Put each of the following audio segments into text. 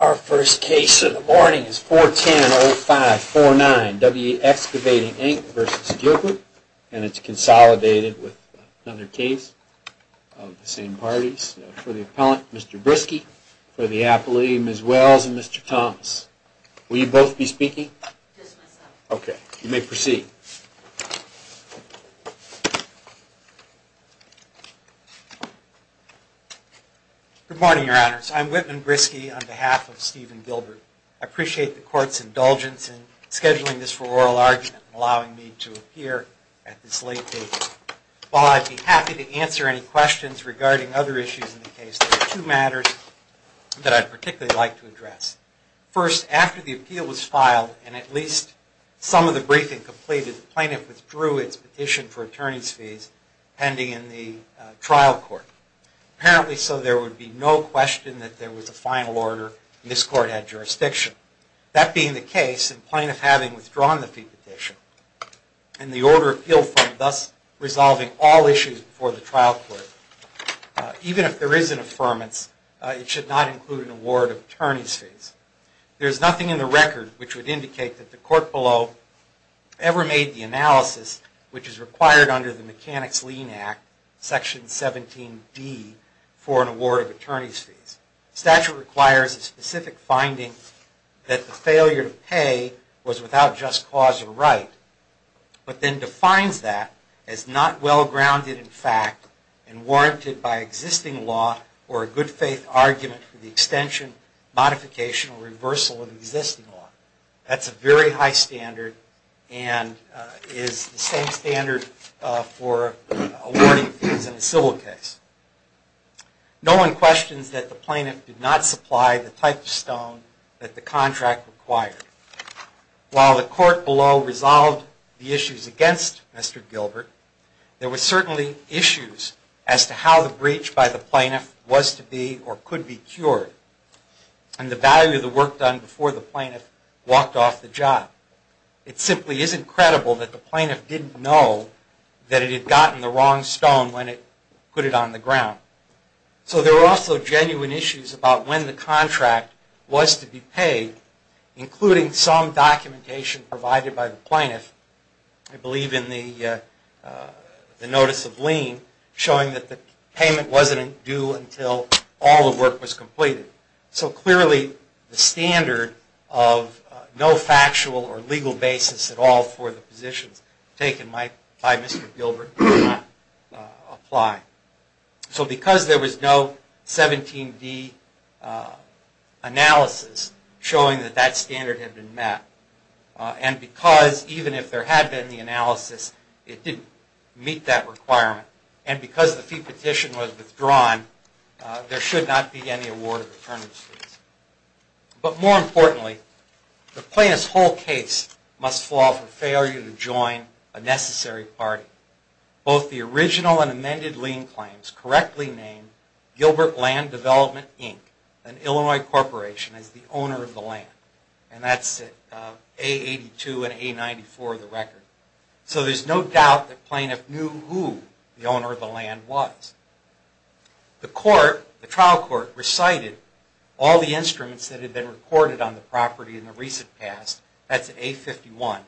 Our first case of the morning is 410-05-49, W.E. Excavating, Inc. v. Gilbert, and it's consolidated with another case of the same parties, for the appellant, Mr. Briske, for the appellee, Ms. Wells, and Mr. Thomas. Will you both be speaking? Mr. Briske, on behalf of Steven Gilbert, I appreciate the Court's indulgence in scheduling this for oral argument and allowing me to appear at this late date. While I'd be happy to answer any questions regarding other issues in the case, there are two matters that I'd particularly like to address. First, after the appeal was filed and at least some of the briefing completed, the plaintiff withdrew its petition for attorney's fees pending in the trial court. Apparently so, there would be no question that there was a final order and this Court had jurisdiction. That being the case, the plaintiff having withdrawn the fee petition and the order of appeal thus resolving all issues before the trial court, even if there is an affirmance, it should not include an award of attorney's fees. There is nothing in the record which would indicate that the Court below ever made the analysis which is required under the Mechanics-Lean Act, Section 17d, for an award of attorney's fees. The statute requires a specific finding that the failure to pay was without just cause or right, but then defines that as not well grounded in fact and warranted by existing law or a good faith argument for the extension, modification, or reversal of existing law. That's a very high standard and is the same standard for awarding fees in a civil case. No one questions that the plaintiff did not supply the type of stone that the contract required. While the Court below resolved the issues against Mr. Gilbert, there were certainly issues as to how the breach by the plaintiff was to be or could be cured and the value of the work done before the plaintiff walked off the job. It simply isn't credible that the plaintiff didn't know that it had gotten the wrong stone when it put it on the ground. So there were also genuine issues about when the contract was to be paid, including some documentation provided by the plaintiff, I believe in the Notice of Lien, showing that the payment wasn't due until all the work was completed. So clearly the standard of no factual or legal basis at all for the positions taken by Mr. Gilbert did not apply. So because there was no 17D analysis showing that that standard had been met, and because even if there had been the analysis, it didn't meet that requirement, and because the fee petition was withdrawn, there should not be any award of attorneys fees. But more importantly, the plaintiff's whole case must fall for failure to join a necessary party. Both the original and amended lien claims correctly named Gilbert Land Development, Inc., an Illinois corporation, as the owner of the land. And that's A82 and A94 of the record. So there's no doubt that the plaintiff knew who the owner of the land was. The trial court recited all the instruments that had been recorded on the property in the recent past, that's A51,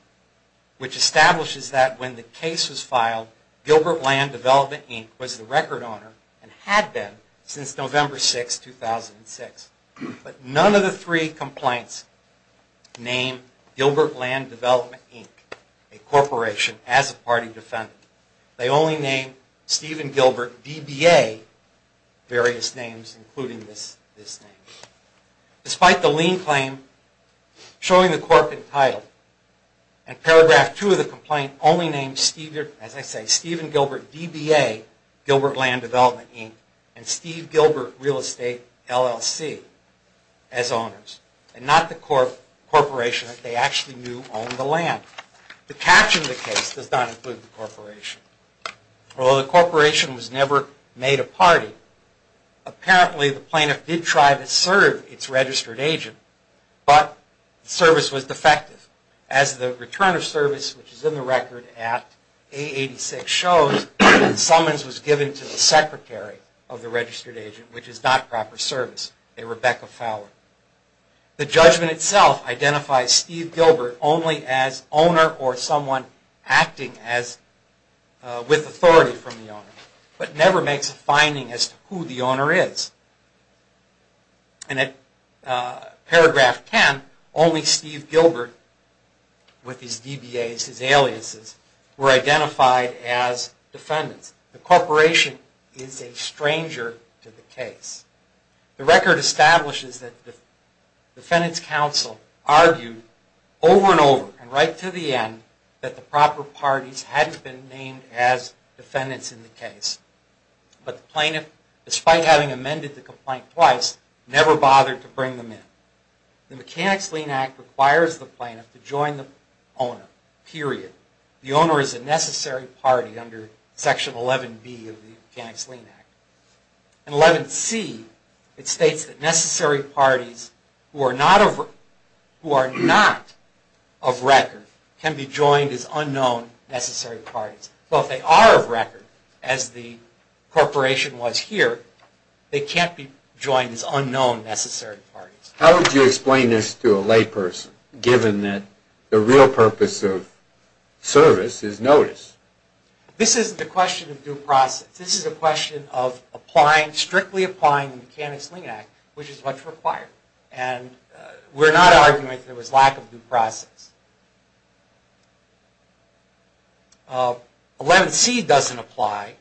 which establishes that when the case was filed, Gilbert Land Development, Inc. was the record owner and had been since November 6, 2006. But none of the three complaints name Gilbert Land Development, Inc., a corporation, as a party defendant. They only name Stephen Gilbert, DBA, various names, including this name. Despite the lien claim showing the corporate title, and paragraph 2 of the complaint only names Stephen Gilbert, DBA, Gilbert Land Development, Inc., and Steve Gilbert Real Estate, LLC, as owners. And not the corporation that they actually knew owned the land. The catch in the case does not include the corporation. Although the corporation was never made a party, apparently the plaintiff did try to serve its registered agent, but service was defective. As the return of service, which is in the record at A86 shows, summons was given to the secretary of the registered agent, which is not proper service, a Rebecca Fowler. The judgment itself identifies Steve Gilbert only as owner or someone acting with authority from the owner, but never makes a finding as to who the owner is. And at paragraph 10, only Steve Gilbert, with his DBAs, his aliases, were identified as defendants. The corporation is a stranger to the case. The record establishes that defendants counsel argued over and over, and right to the end, that the proper parties hadn't been named as defendants in the case. But the plaintiff, despite having amended the complaint twice, never bothered to bring them in. The Mechanics Lien Act requires the plaintiff to join the owner, period. The owner is a necessary party under Section 11B of the Mechanics Lien Act. In 11C, it states that necessary parties who are not of record can be joined as unknown necessary parties. So if they are of record, as the corporation was here, they can't be joined as unknown necessary parties. How would you explain this to a layperson, given that the real purpose of service is notice? This isn't a question of due process. This is a question of strictly applying the Mechanics Lien Act, which is what's required. And we're not arguing that there was lack of due process. 11C doesn't apply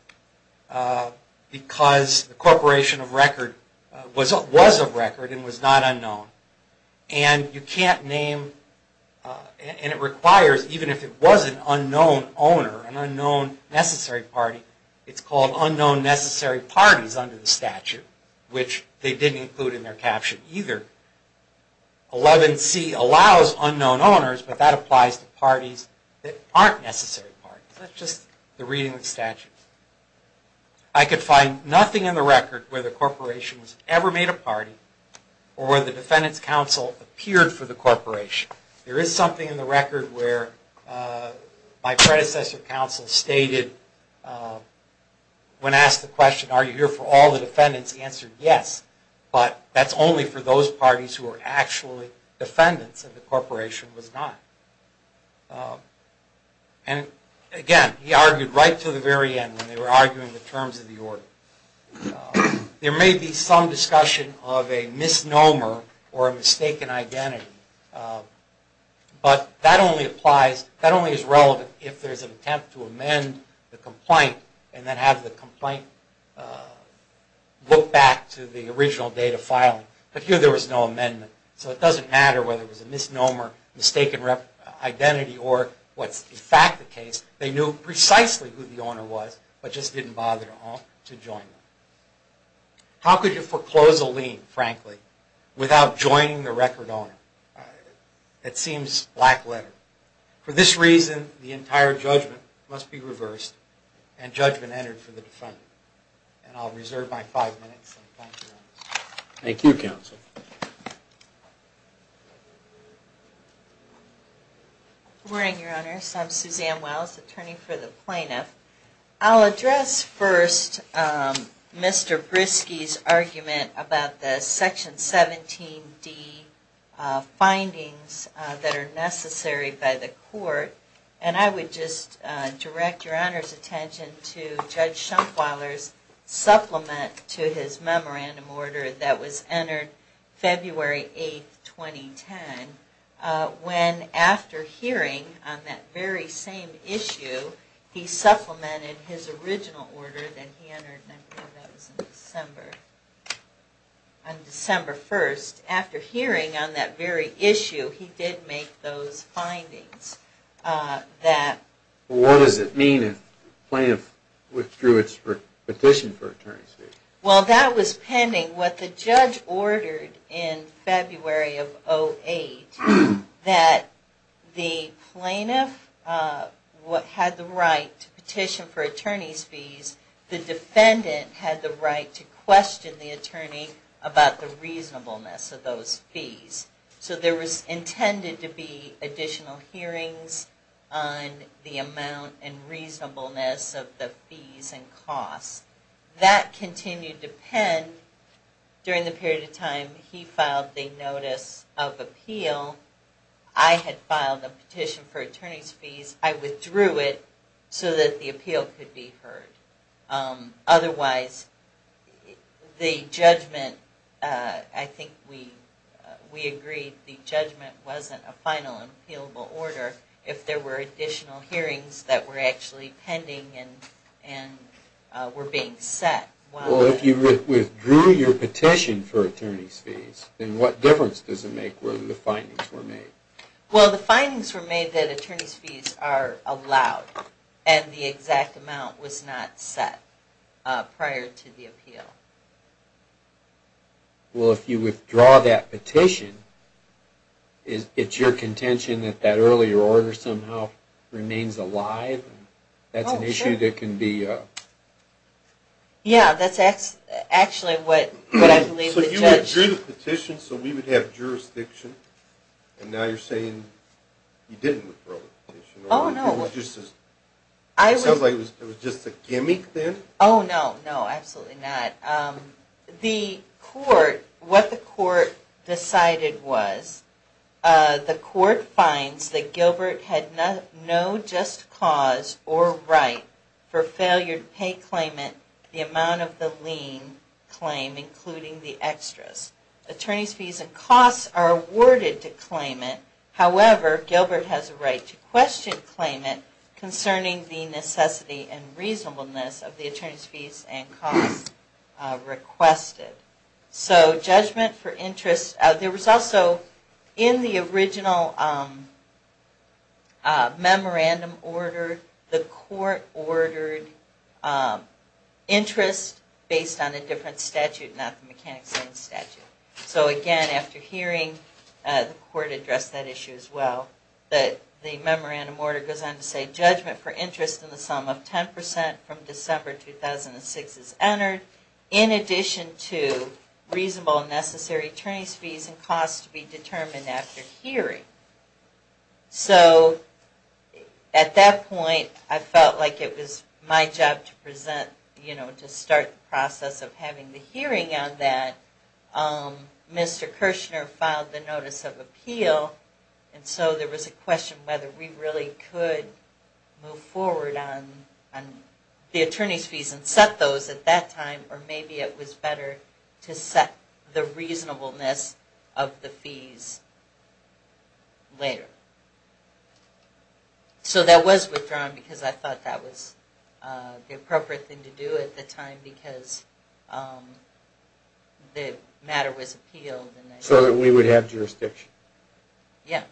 because the corporation was of record and was not unknown. And you can't name, and it requires, even if it was an unknown owner, an unknown necessary party, it's called unknown necessary parties under the statute, which they didn't include in their caption either. 11C allows unknown owners, but that applies to parties that aren't necessary parties. I could find nothing in the record where the corporation was ever made a party, or where the defendant's counsel appeared for the corporation. There is something in the record where my predecessor counsel stated, when asked the question, are you here for all the defendants, he answered yes. But that's only for those parties who are actually defendants, and the corporation was not. And again, he argued right to the very end when they were arguing the terms of the order. There may be some discussion of a misnomer or a mistaken identity, but that only applies, that only is relevant if there's an attempt to amend the complaint, and then have the complaint look back to the original date of filing. But here there was no amendment, so it doesn't matter whether it was a misnomer, mistaken identity, or what's in fact the case. They knew precisely who the owner was, but just didn't bother to join them. How could you foreclose a lien, frankly, without joining the record owner? It seems black letter. For this reason, the entire judgment must be reversed, and judgment entered for the defendant. And I'll reserve my five minutes, and thank you, Your Honor. Thank you, counsel. Good morning, Your Honor. I'm Suzanne Wells, attorney for the plaintiff. I'll address first Mr. Briskey's argument about the Section 17d findings that are necessary by the court, and I would just direct Your Honor's attention to Judge Schunkweiler's supplement to his memorandum order that was entered February 8th, 2010, when after hearing on that very same issue, he supplemented his original order that he entered, I believe that was on December 1st. After hearing on that very issue, he did make those findings. What does it mean if the plaintiff withdrew its petition for attorney's fees? Well, that was pending what the judge ordered in February of 2008, that the plaintiff had the right to petition for attorney's fees, the defendant had the right to question the attorney about the reasonableness of those fees. So there was intended to be additional hearings on the amount and reasonableness of the fees and costs. That continued to pend during the period of time he filed the notice of appeal. I had filed a petition for attorney's fees, I withdrew it so that the appeal could be heard. Otherwise, the judgment, I think we agreed the judgment wasn't a final and appealable order if there were additional hearings that were actually pending and were being set. Well, if you withdrew your petition for attorney's fees, then what difference does it make whether the findings were made? Well, the findings were made that attorney's fees are allowed and the exact amount was not set prior to the appeal. Well, if you withdraw that petition, it's your contention that that earlier order somehow remains alive? That's an issue that can be... Yeah, that's actually what I believe the judge... So you withdrew the petition so we would have jurisdiction, and now you're saying you didn't withdraw the petition? Oh, no. It sounds like it was just a gimmick then? Oh, no. No, absolutely not. The court, what the court decided was, the court finds that Gilbert had no just cause or right for failure to pay claimant the amount of the lien claim, including the extras. Attorney's fees and costs are awarded to claimant. However, Gilbert has a right to question claimant concerning the necessity and reasonableness of the attorney's fees and costs requested. So judgment for interest... There was also, in the original memorandum order, the court ordered interest based on a different statute, not the mechanic's claim statute. So again, after hearing, the court addressed that issue as well. The memorandum order goes on to say judgment for interest in the sum of 10% from December 2006 is entered, in addition to reasonable and necessary attorney's fees and costs to be determined after hearing. So at that point, I felt like it was my job to present, to start the process of having the hearing on that. Mr. Kirshner filed the notice of appeal, and so there was a question whether we really could move forward on the attorney's fees and set those at that time, or maybe it was better to set the reasonableness of the fees later. So that was withdrawn, because I thought that was the appropriate thing to do at the time, because the matter was appealed. So that we would have jurisdiction? Yeah.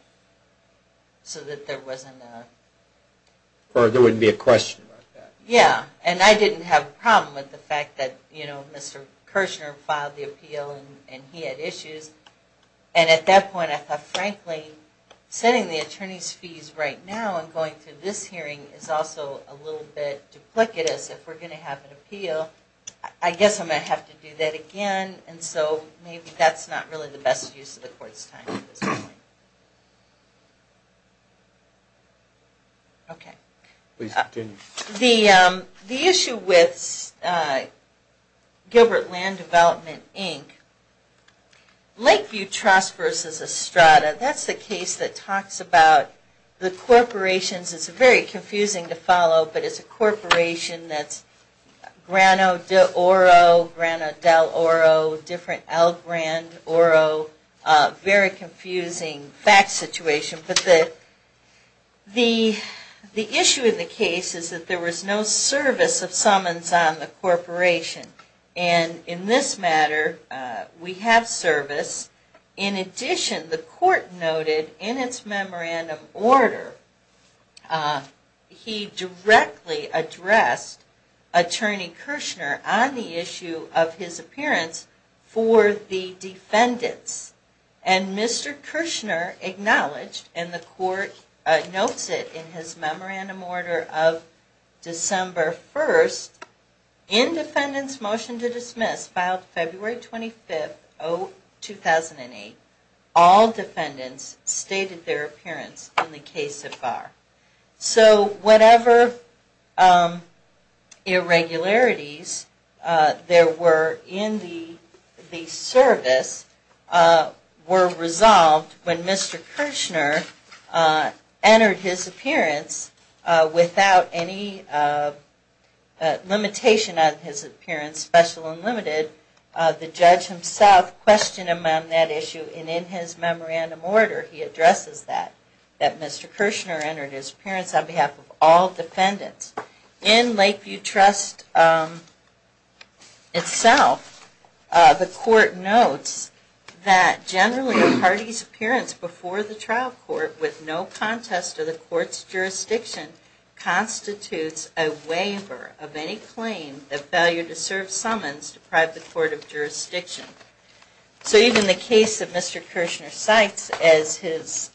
So that there wasn't a... Or there wouldn't be a question about that. Yeah, and I didn't have a problem with the fact that Mr. Kirshner filed the appeal and he had issues. And at that point, I thought, frankly, setting the attorney's fees right now and going through this hearing is also a little bit duplicitous. If we're going to have an appeal, I guess I'm going to have to do that again, and so maybe that's not really the best use of the court's time at this point. Okay. Please continue. The issue with Gilbert Land Development, Inc., Lakeview Trust versus Estrada, that's the case that talks about the corporations. It's very confusing to follow, but it's a corporation that's Grano de Oro, Grano del Oro, different El Grande Oro, very confusing fact situation. But the issue of the case is that there was no service of summons on the corporation. And in this matter, we have service. In addition, the court noted in its memorandum order, he directly addressed Attorney Kirshner on the issue of his appearance for the defendants. And Mr. Kirshner acknowledged, and the court notes it in his memorandum order of December 1st, in defendant's motion to dismiss, filed February 25th, 2008, all defendants stated their appearance in the case so far. So whatever irregularities there were in the service were resolved when Mr. Kirshner entered his appearance without any limitation on his appearance, special and limited. The judge himself questioned him on that issue, and in his memorandum order, he addresses that, that Mr. Kirshner entered his appearance on behalf of all defendants. In Lakeview Trust itself, the court notes that generally a party's appearance before the trial court with no contest to the court's jurisdiction constitutes a waiver of any claim that failure to serve summons deprive the court of jurisdiction. So even the case that Mr. Kirshner cites as his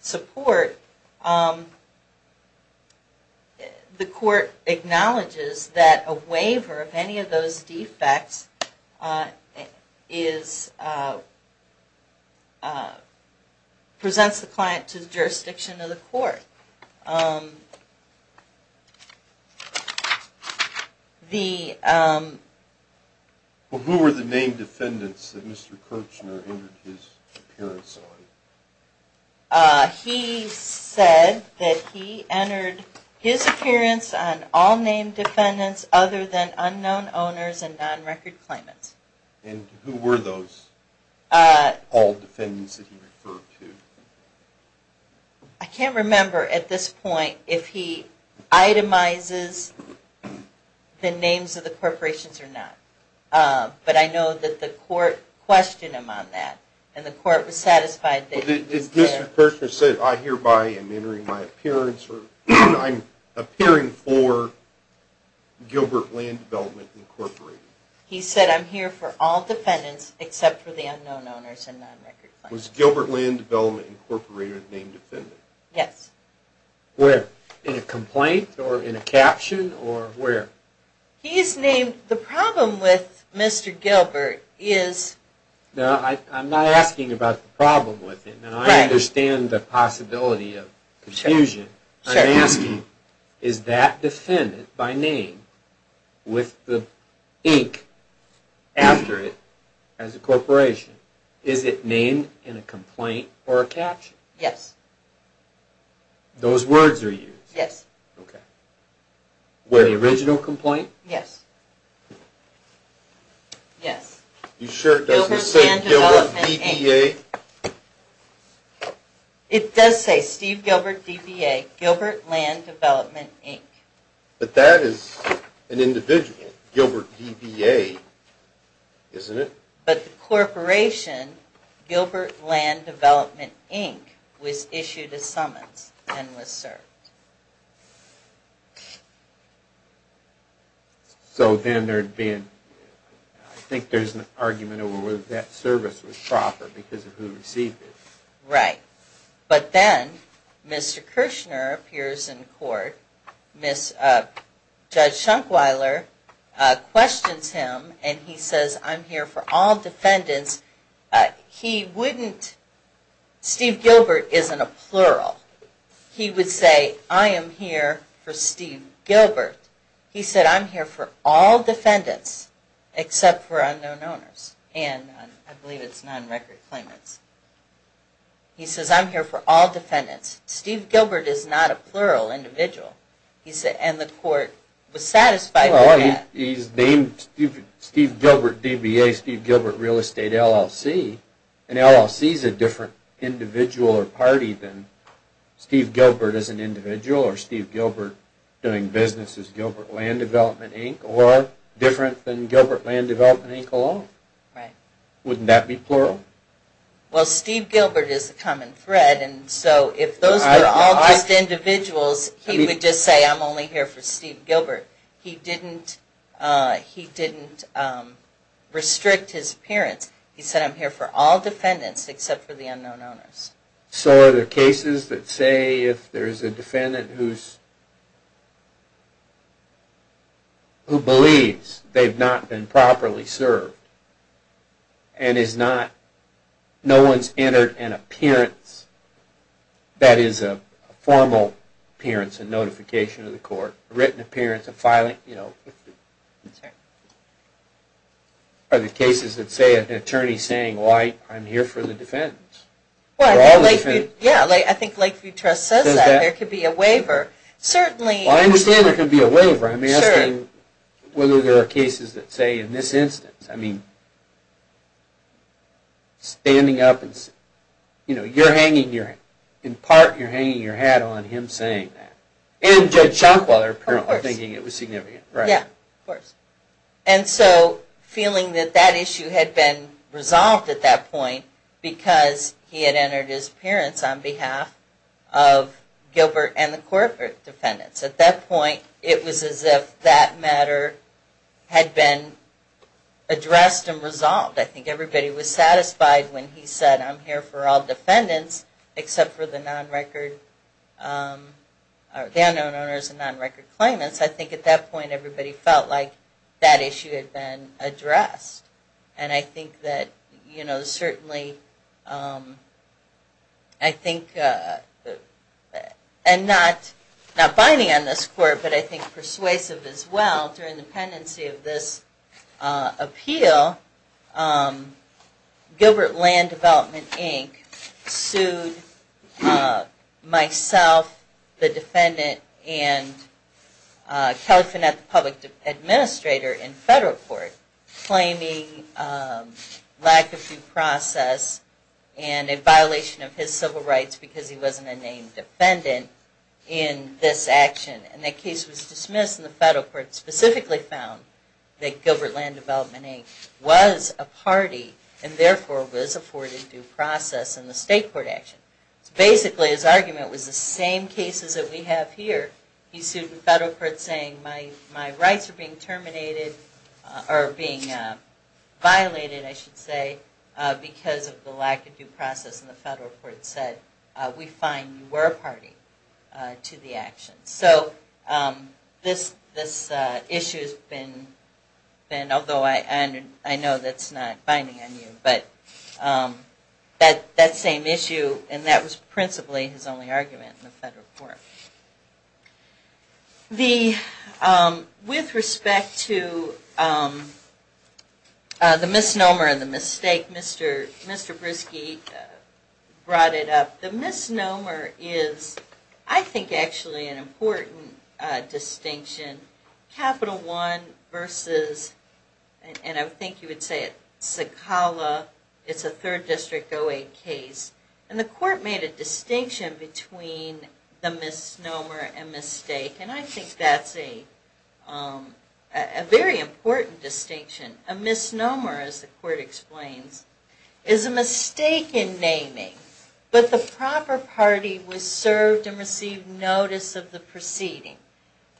support, the court acknowledges that a waiver of any of those defects presents the client to the jurisdiction of the court. Who were the named defendants that Mr. Kirshner entered his appearance on? He said that he entered his appearance on all named defendants other than unknown owners and non-record claimants. And who were those all defendants that he referred to? I can't remember at this point if he itemizes the names of the corporations or not, but I know that the court questioned him on that, and the court was satisfied that he was there. Did Mr. Kirshner say, I hereby am entering my appearance, or I'm appearing for Gilbert Land Development Incorporated? He said, I'm here for all defendants except for the unknown owners and non-record claimants. Was Gilbert Land Development Incorporated a named defendant? Yes. Where? In a complaint or in a caption or where? He is named. The problem with Mr. Gilbert is... No, I'm not asking about the problem with him. I understand the possibility of confusion. I'm asking, is that defendant by name with the ink after it as a corporation, is it named in a complaint or a caption? Yes. Those words are used? Yes. Okay. Where, the original complaint? Yes. Yes. You sure it doesn't say Gilbert DBA? It does say Steve Gilbert DBA, Gilbert Land Development Inc. But that is an individual, Gilbert DBA, isn't it? But the corporation, Gilbert Land Development Inc., was issued a summons and was served. So then there would be... I think there's an argument over whether that service was proper because of who received it. Right. But then, Mr. Kirshner appears in court, Judge Schunkweiler questions him and he says, I'm here for all defendants. He wouldn't... Steve Gilbert isn't a plural. He would say, I am here for Steve Gilbert. He said, I'm here for all defendants except for unknown owners. And I believe it's non-record claimants. He says, I'm here for all defendants. Steve Gilbert is not a plural individual. And the court was satisfied with that. He's named Steve Gilbert DBA, Steve Gilbert Real Estate LLC. And LLC is a different individual or party than Steve Gilbert as an individual or Steve Gilbert doing business as Gilbert Land Development Inc. or different than Gilbert Land Development Inc. alone. Right. Wouldn't that be plural? Well, Steve Gilbert is a common thread. And so if those were all just individuals, he would just say, I'm only here for Steve Gilbert. He didn't restrict his appearance. He said, I'm here for all defendants except for the unknown owners. So are there cases that say if there's a defendant who's... who believes they've not been properly served and is not... no one's entered an appearance or a written appearance of filing... Are there cases that say an attorney is saying, well, I'm here for the defendants? Yeah, I think Lakeview Trust says that. There could be a waiver. Certainly... Well, I understand there could be a waiver. I'm asking whether there are cases that say in this instance. I mean, standing up and... you know, you're hanging your... in part, you're hanging your hat on him saying that. And Judge Shockwell, apparently, thinking it was significant. Yeah, of course. And so feeling that that issue had been resolved at that point because he had entered his appearance on behalf of Gilbert and the corporate defendants. At that point, it was as if that matter had been addressed and resolved. I think everybody was satisfied when he said, I'm here for all defendants except for the non-record... the unknown owners and non-record claimants. I think at that point, everybody felt like that issue had been addressed. And I think that, you know, certainly... I think... and not binding on this court, but I think persuasive as well, through independency of this appeal, Gilbert Land Development Inc. sued myself, the defendant, and Kelly Fenneth, the public administrator in federal court, claiming lack of due process and a violation of his civil rights because he wasn't a named defendant in this action. And that case was dismissed and the federal court specifically found that Gilbert Land Development Inc. was a party and therefore was afforded due process in the state court action. So basically, his argument was the same cases that we have here. He sued in federal court saying, my rights are being terminated... or being violated, I should say, because of the lack of due process and the federal court said, we find you were a party to the action. So this issue has been... although I know that's not binding on you, but that same issue, and that was principally his only argument in the federal court. With respect to the misnomer and the mistake Mr. Briskey brought it up, the misnomer is, I think, actually an important distinction. Capital one versus, and I think you would say it, Sakala, it's a third district 08 case. And the court made a distinction between the misnomer and mistake and I think that's a very important distinction. A misnomer, as the court explains, is a mistake in naming. But the proper party was served and received notice of the proceeding.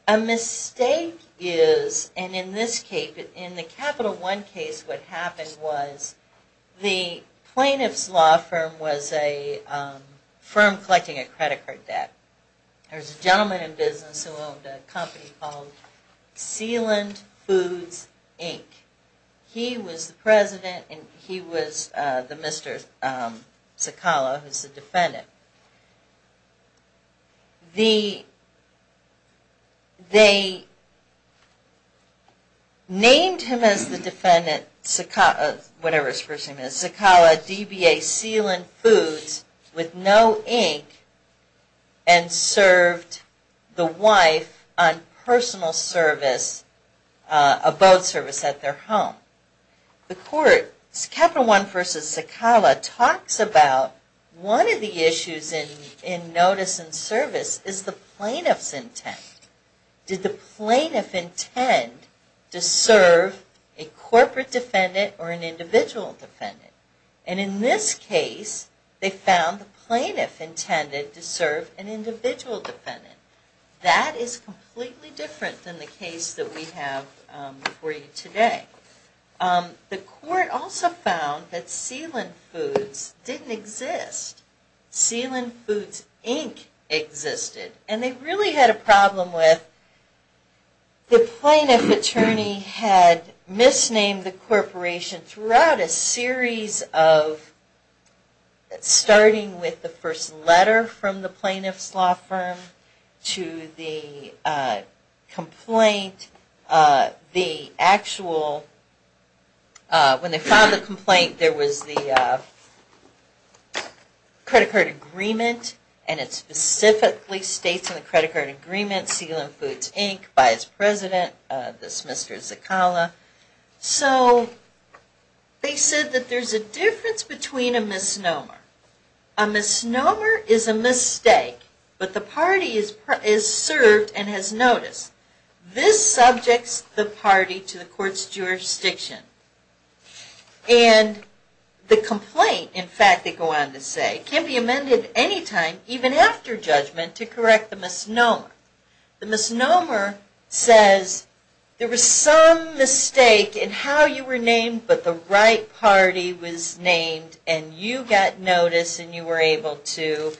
A mistake is, and in this case, in the capital one case, what happened was the plaintiff's law firm was a firm collecting a credit card debt. There was a gentleman in business who owned a company called Sealand Foods, Inc. He was the president and he was the Mr. Sakala, who's the defendant. They named him as the defendant, whatever his first name is, Sakala DBA Sealand Foods, with no ink, and served the wife on personal service, a boat service at their home. The court, capital one versus Sakala, talks about one of the issues in notice and service is the plaintiff's intent. Did the plaintiff intend to serve a corporate defendant or an individual defendant? And in this case, they found the plaintiff intended to serve an individual defendant. That is completely different than the case that we have for you today. The court also found that Sealand Foods didn't exist. Sealand Foods, Inc. existed. And they really had a problem with the plaintiff attorney and he had misnamed the corporation throughout a series of, starting with the first letter from the plaintiff's law firm to the complaint, the actual, when they found the complaint, there was the credit card agreement and it specifically states in the credit card agreement, by his president, this Mr. Sakala. So they said that there's a difference between a misnomer. A misnomer is a mistake, but the party is served and has notice. This subjects the party to the court's jurisdiction. And the complaint, in fact, they go on to say, it can be amended anytime, even after judgment, to correct the misnomer. The misnomer says there was some mistake in how you were named, but the right party was named and you got notice and you were able to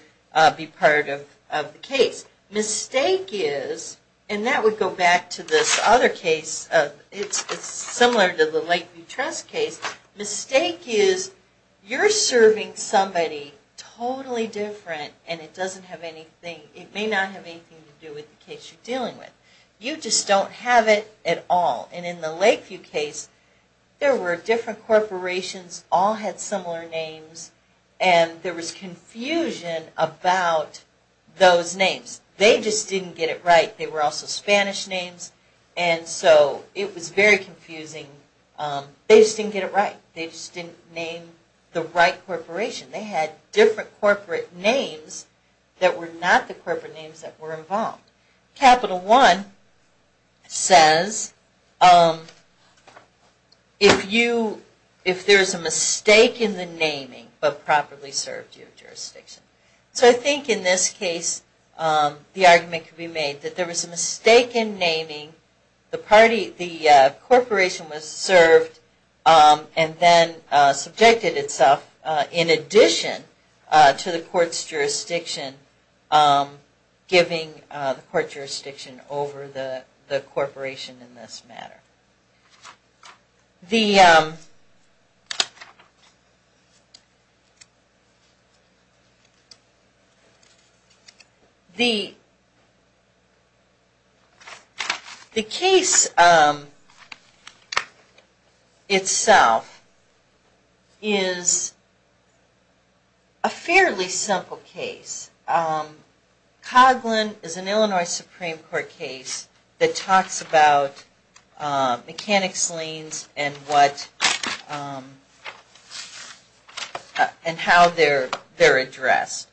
be part of the case. Mistake is, and that would go back to this other case, it's similar to the Lakeview Trust case, mistake is, you're serving somebody totally different and it may not have anything to do with the case you're dealing with. You just don't have it at all. And in the Lakeview case, there were different corporations, all had similar names, and there was confusion about those names. They just didn't get it right. They were also Spanish names, and so it was very confusing. They just didn't get it right. They just didn't name the right corporation. They had different corporate names that were not the corporate names that were involved. Capital One says, if there's a mistake in the naming, but properly served your jurisdiction. So I think in this case, the argument could be made that there was a mistake in naming, the corporation was served and then subjected itself, in addition to the court's jurisdiction, giving the court jurisdiction over the corporation in this matter. The case itself is a fairly simple case. Coghlan is an Illinois Supreme Court case that talks about mechanics liens and how they're addressed.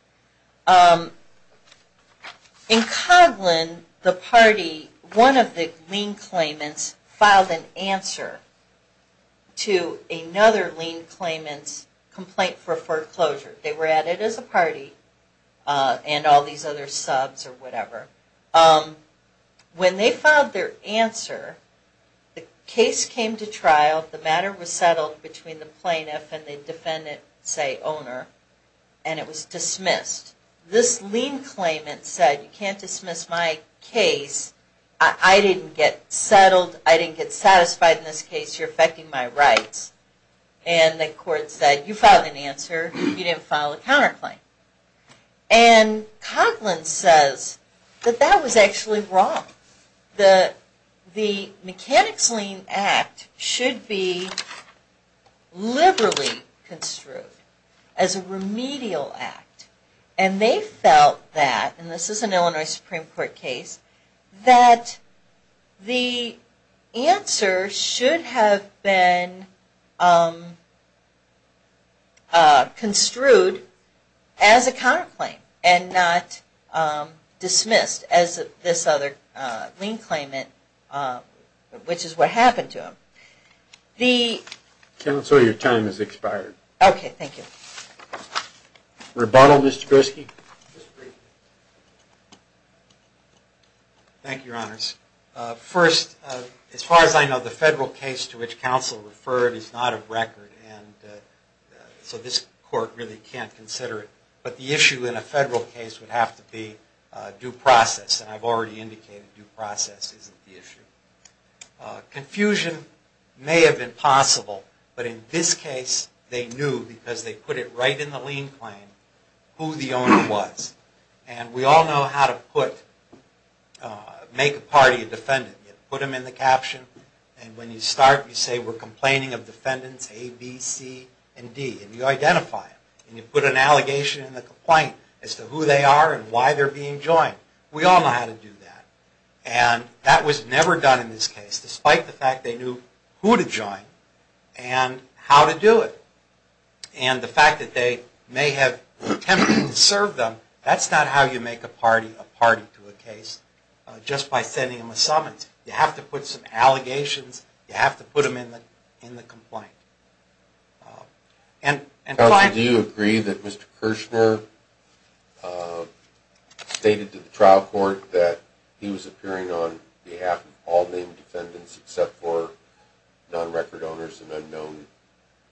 In Coghlan, the party, one of the lien claimants filed an answer to another lien claimant's complaint for foreclosure. They were added as a party and all these other subs or whatever. When they filed their answer, the case came to trial, the matter was settled between the plaintiff and the defendant, say, owner, and it was dismissed. This lien claimant said, you can't dismiss my case, I didn't get settled, I didn't get satisfied in this case, you're affecting my rights. And the court said, you filed an answer, you didn't file a counterclaim. And Coghlan says that that was actually wrong. The Mechanics Lien Act should be liberally construed as a remedial act. And they felt that, and this is an Illinois Supreme Court case, that the answer should have been construed as a counterclaim and not dismissed as this other lien claimant, which is what happened to him. Counsel, your time has expired. Okay, thank you. Rebuttal, Mr. Gorski? Thank you, Your Honors. First, as far as I know, the federal case to which counsel referred is not of record, and so this court really can't consider it. But the issue in a federal case would have to be due process, and I've already indicated due process isn't the issue. Confusion may have been possible, but in this case they knew, because they put it right in the lien claim, who the owner was. And we all know how to make a party a defendant. You put them in the caption, and when you start, you say, we're complaining of defendants A, B, C, and D. And you identify them, and you put an allegation in the complaint as to who they are and why they're being joined. We all know how to do that. And that was never done in this case, despite the fact they knew who to join and how to do it. And the fact that they may have attempted to serve them, that's not how you make a party a party to a case, just by sending them a summons. You have to put some allegations. You have to put them in the complaint. Counsel, do you agree that Mr. Kirshner stated to the trial court that he was appearing on behalf of all named defendants, except for non-record owners and unknown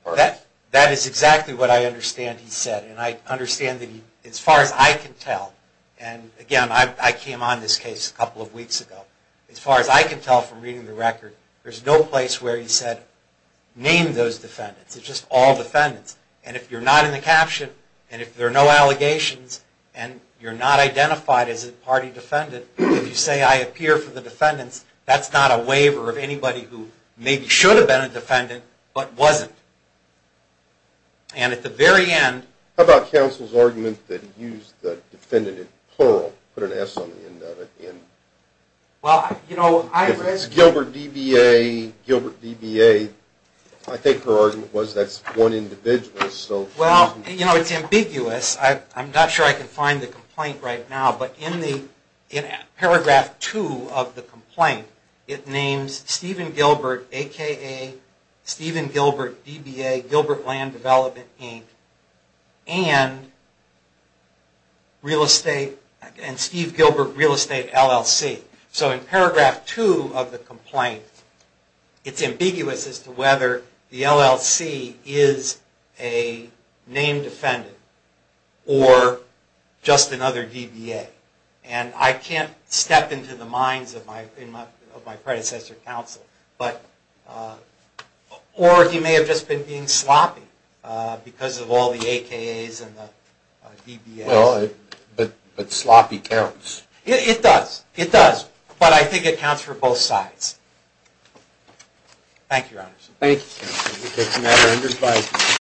parties? That is exactly what I understand he said. And I understand that as far as I can tell, and again I came on this case a couple of weeks ago, as far as I can tell from reading the record, there's no place where he said, name those defendants. It's just all defendants. And if you're not in the caption, and if there are no allegations, and you're not identified as a party defendant, if you say I appear for the defendants, that's not a waiver of anybody who maybe should have been a defendant, but wasn't. And at the very end... How about counsel's argument that he used the defendant in plural, put an S on the end of it? Well, you know, I... If it's Gilbert DBA, Gilbert DBA, I think her argument was that's one individual. Well, you know, it's ambiguous. I'm not sure I can find the complaint right now, but in Paragraph 2 of the complaint, it names Stephen Gilbert, a.k.a. Stephen Gilbert DBA, Gilbert Land Development, Inc., and Steve Gilbert Real Estate LLC. So in Paragraph 2 of the complaint, it's ambiguous as to whether the LLC is a named defendant or just another DBA. And I can't step into the minds of my predecessor counsel, but... Or he may have just been being sloppy because of all the AKAs and the DBAs. Well, but sloppy counts. It does. It does. But I think it counts for both sides. Thank you, Your Honors. Thank you, counsel.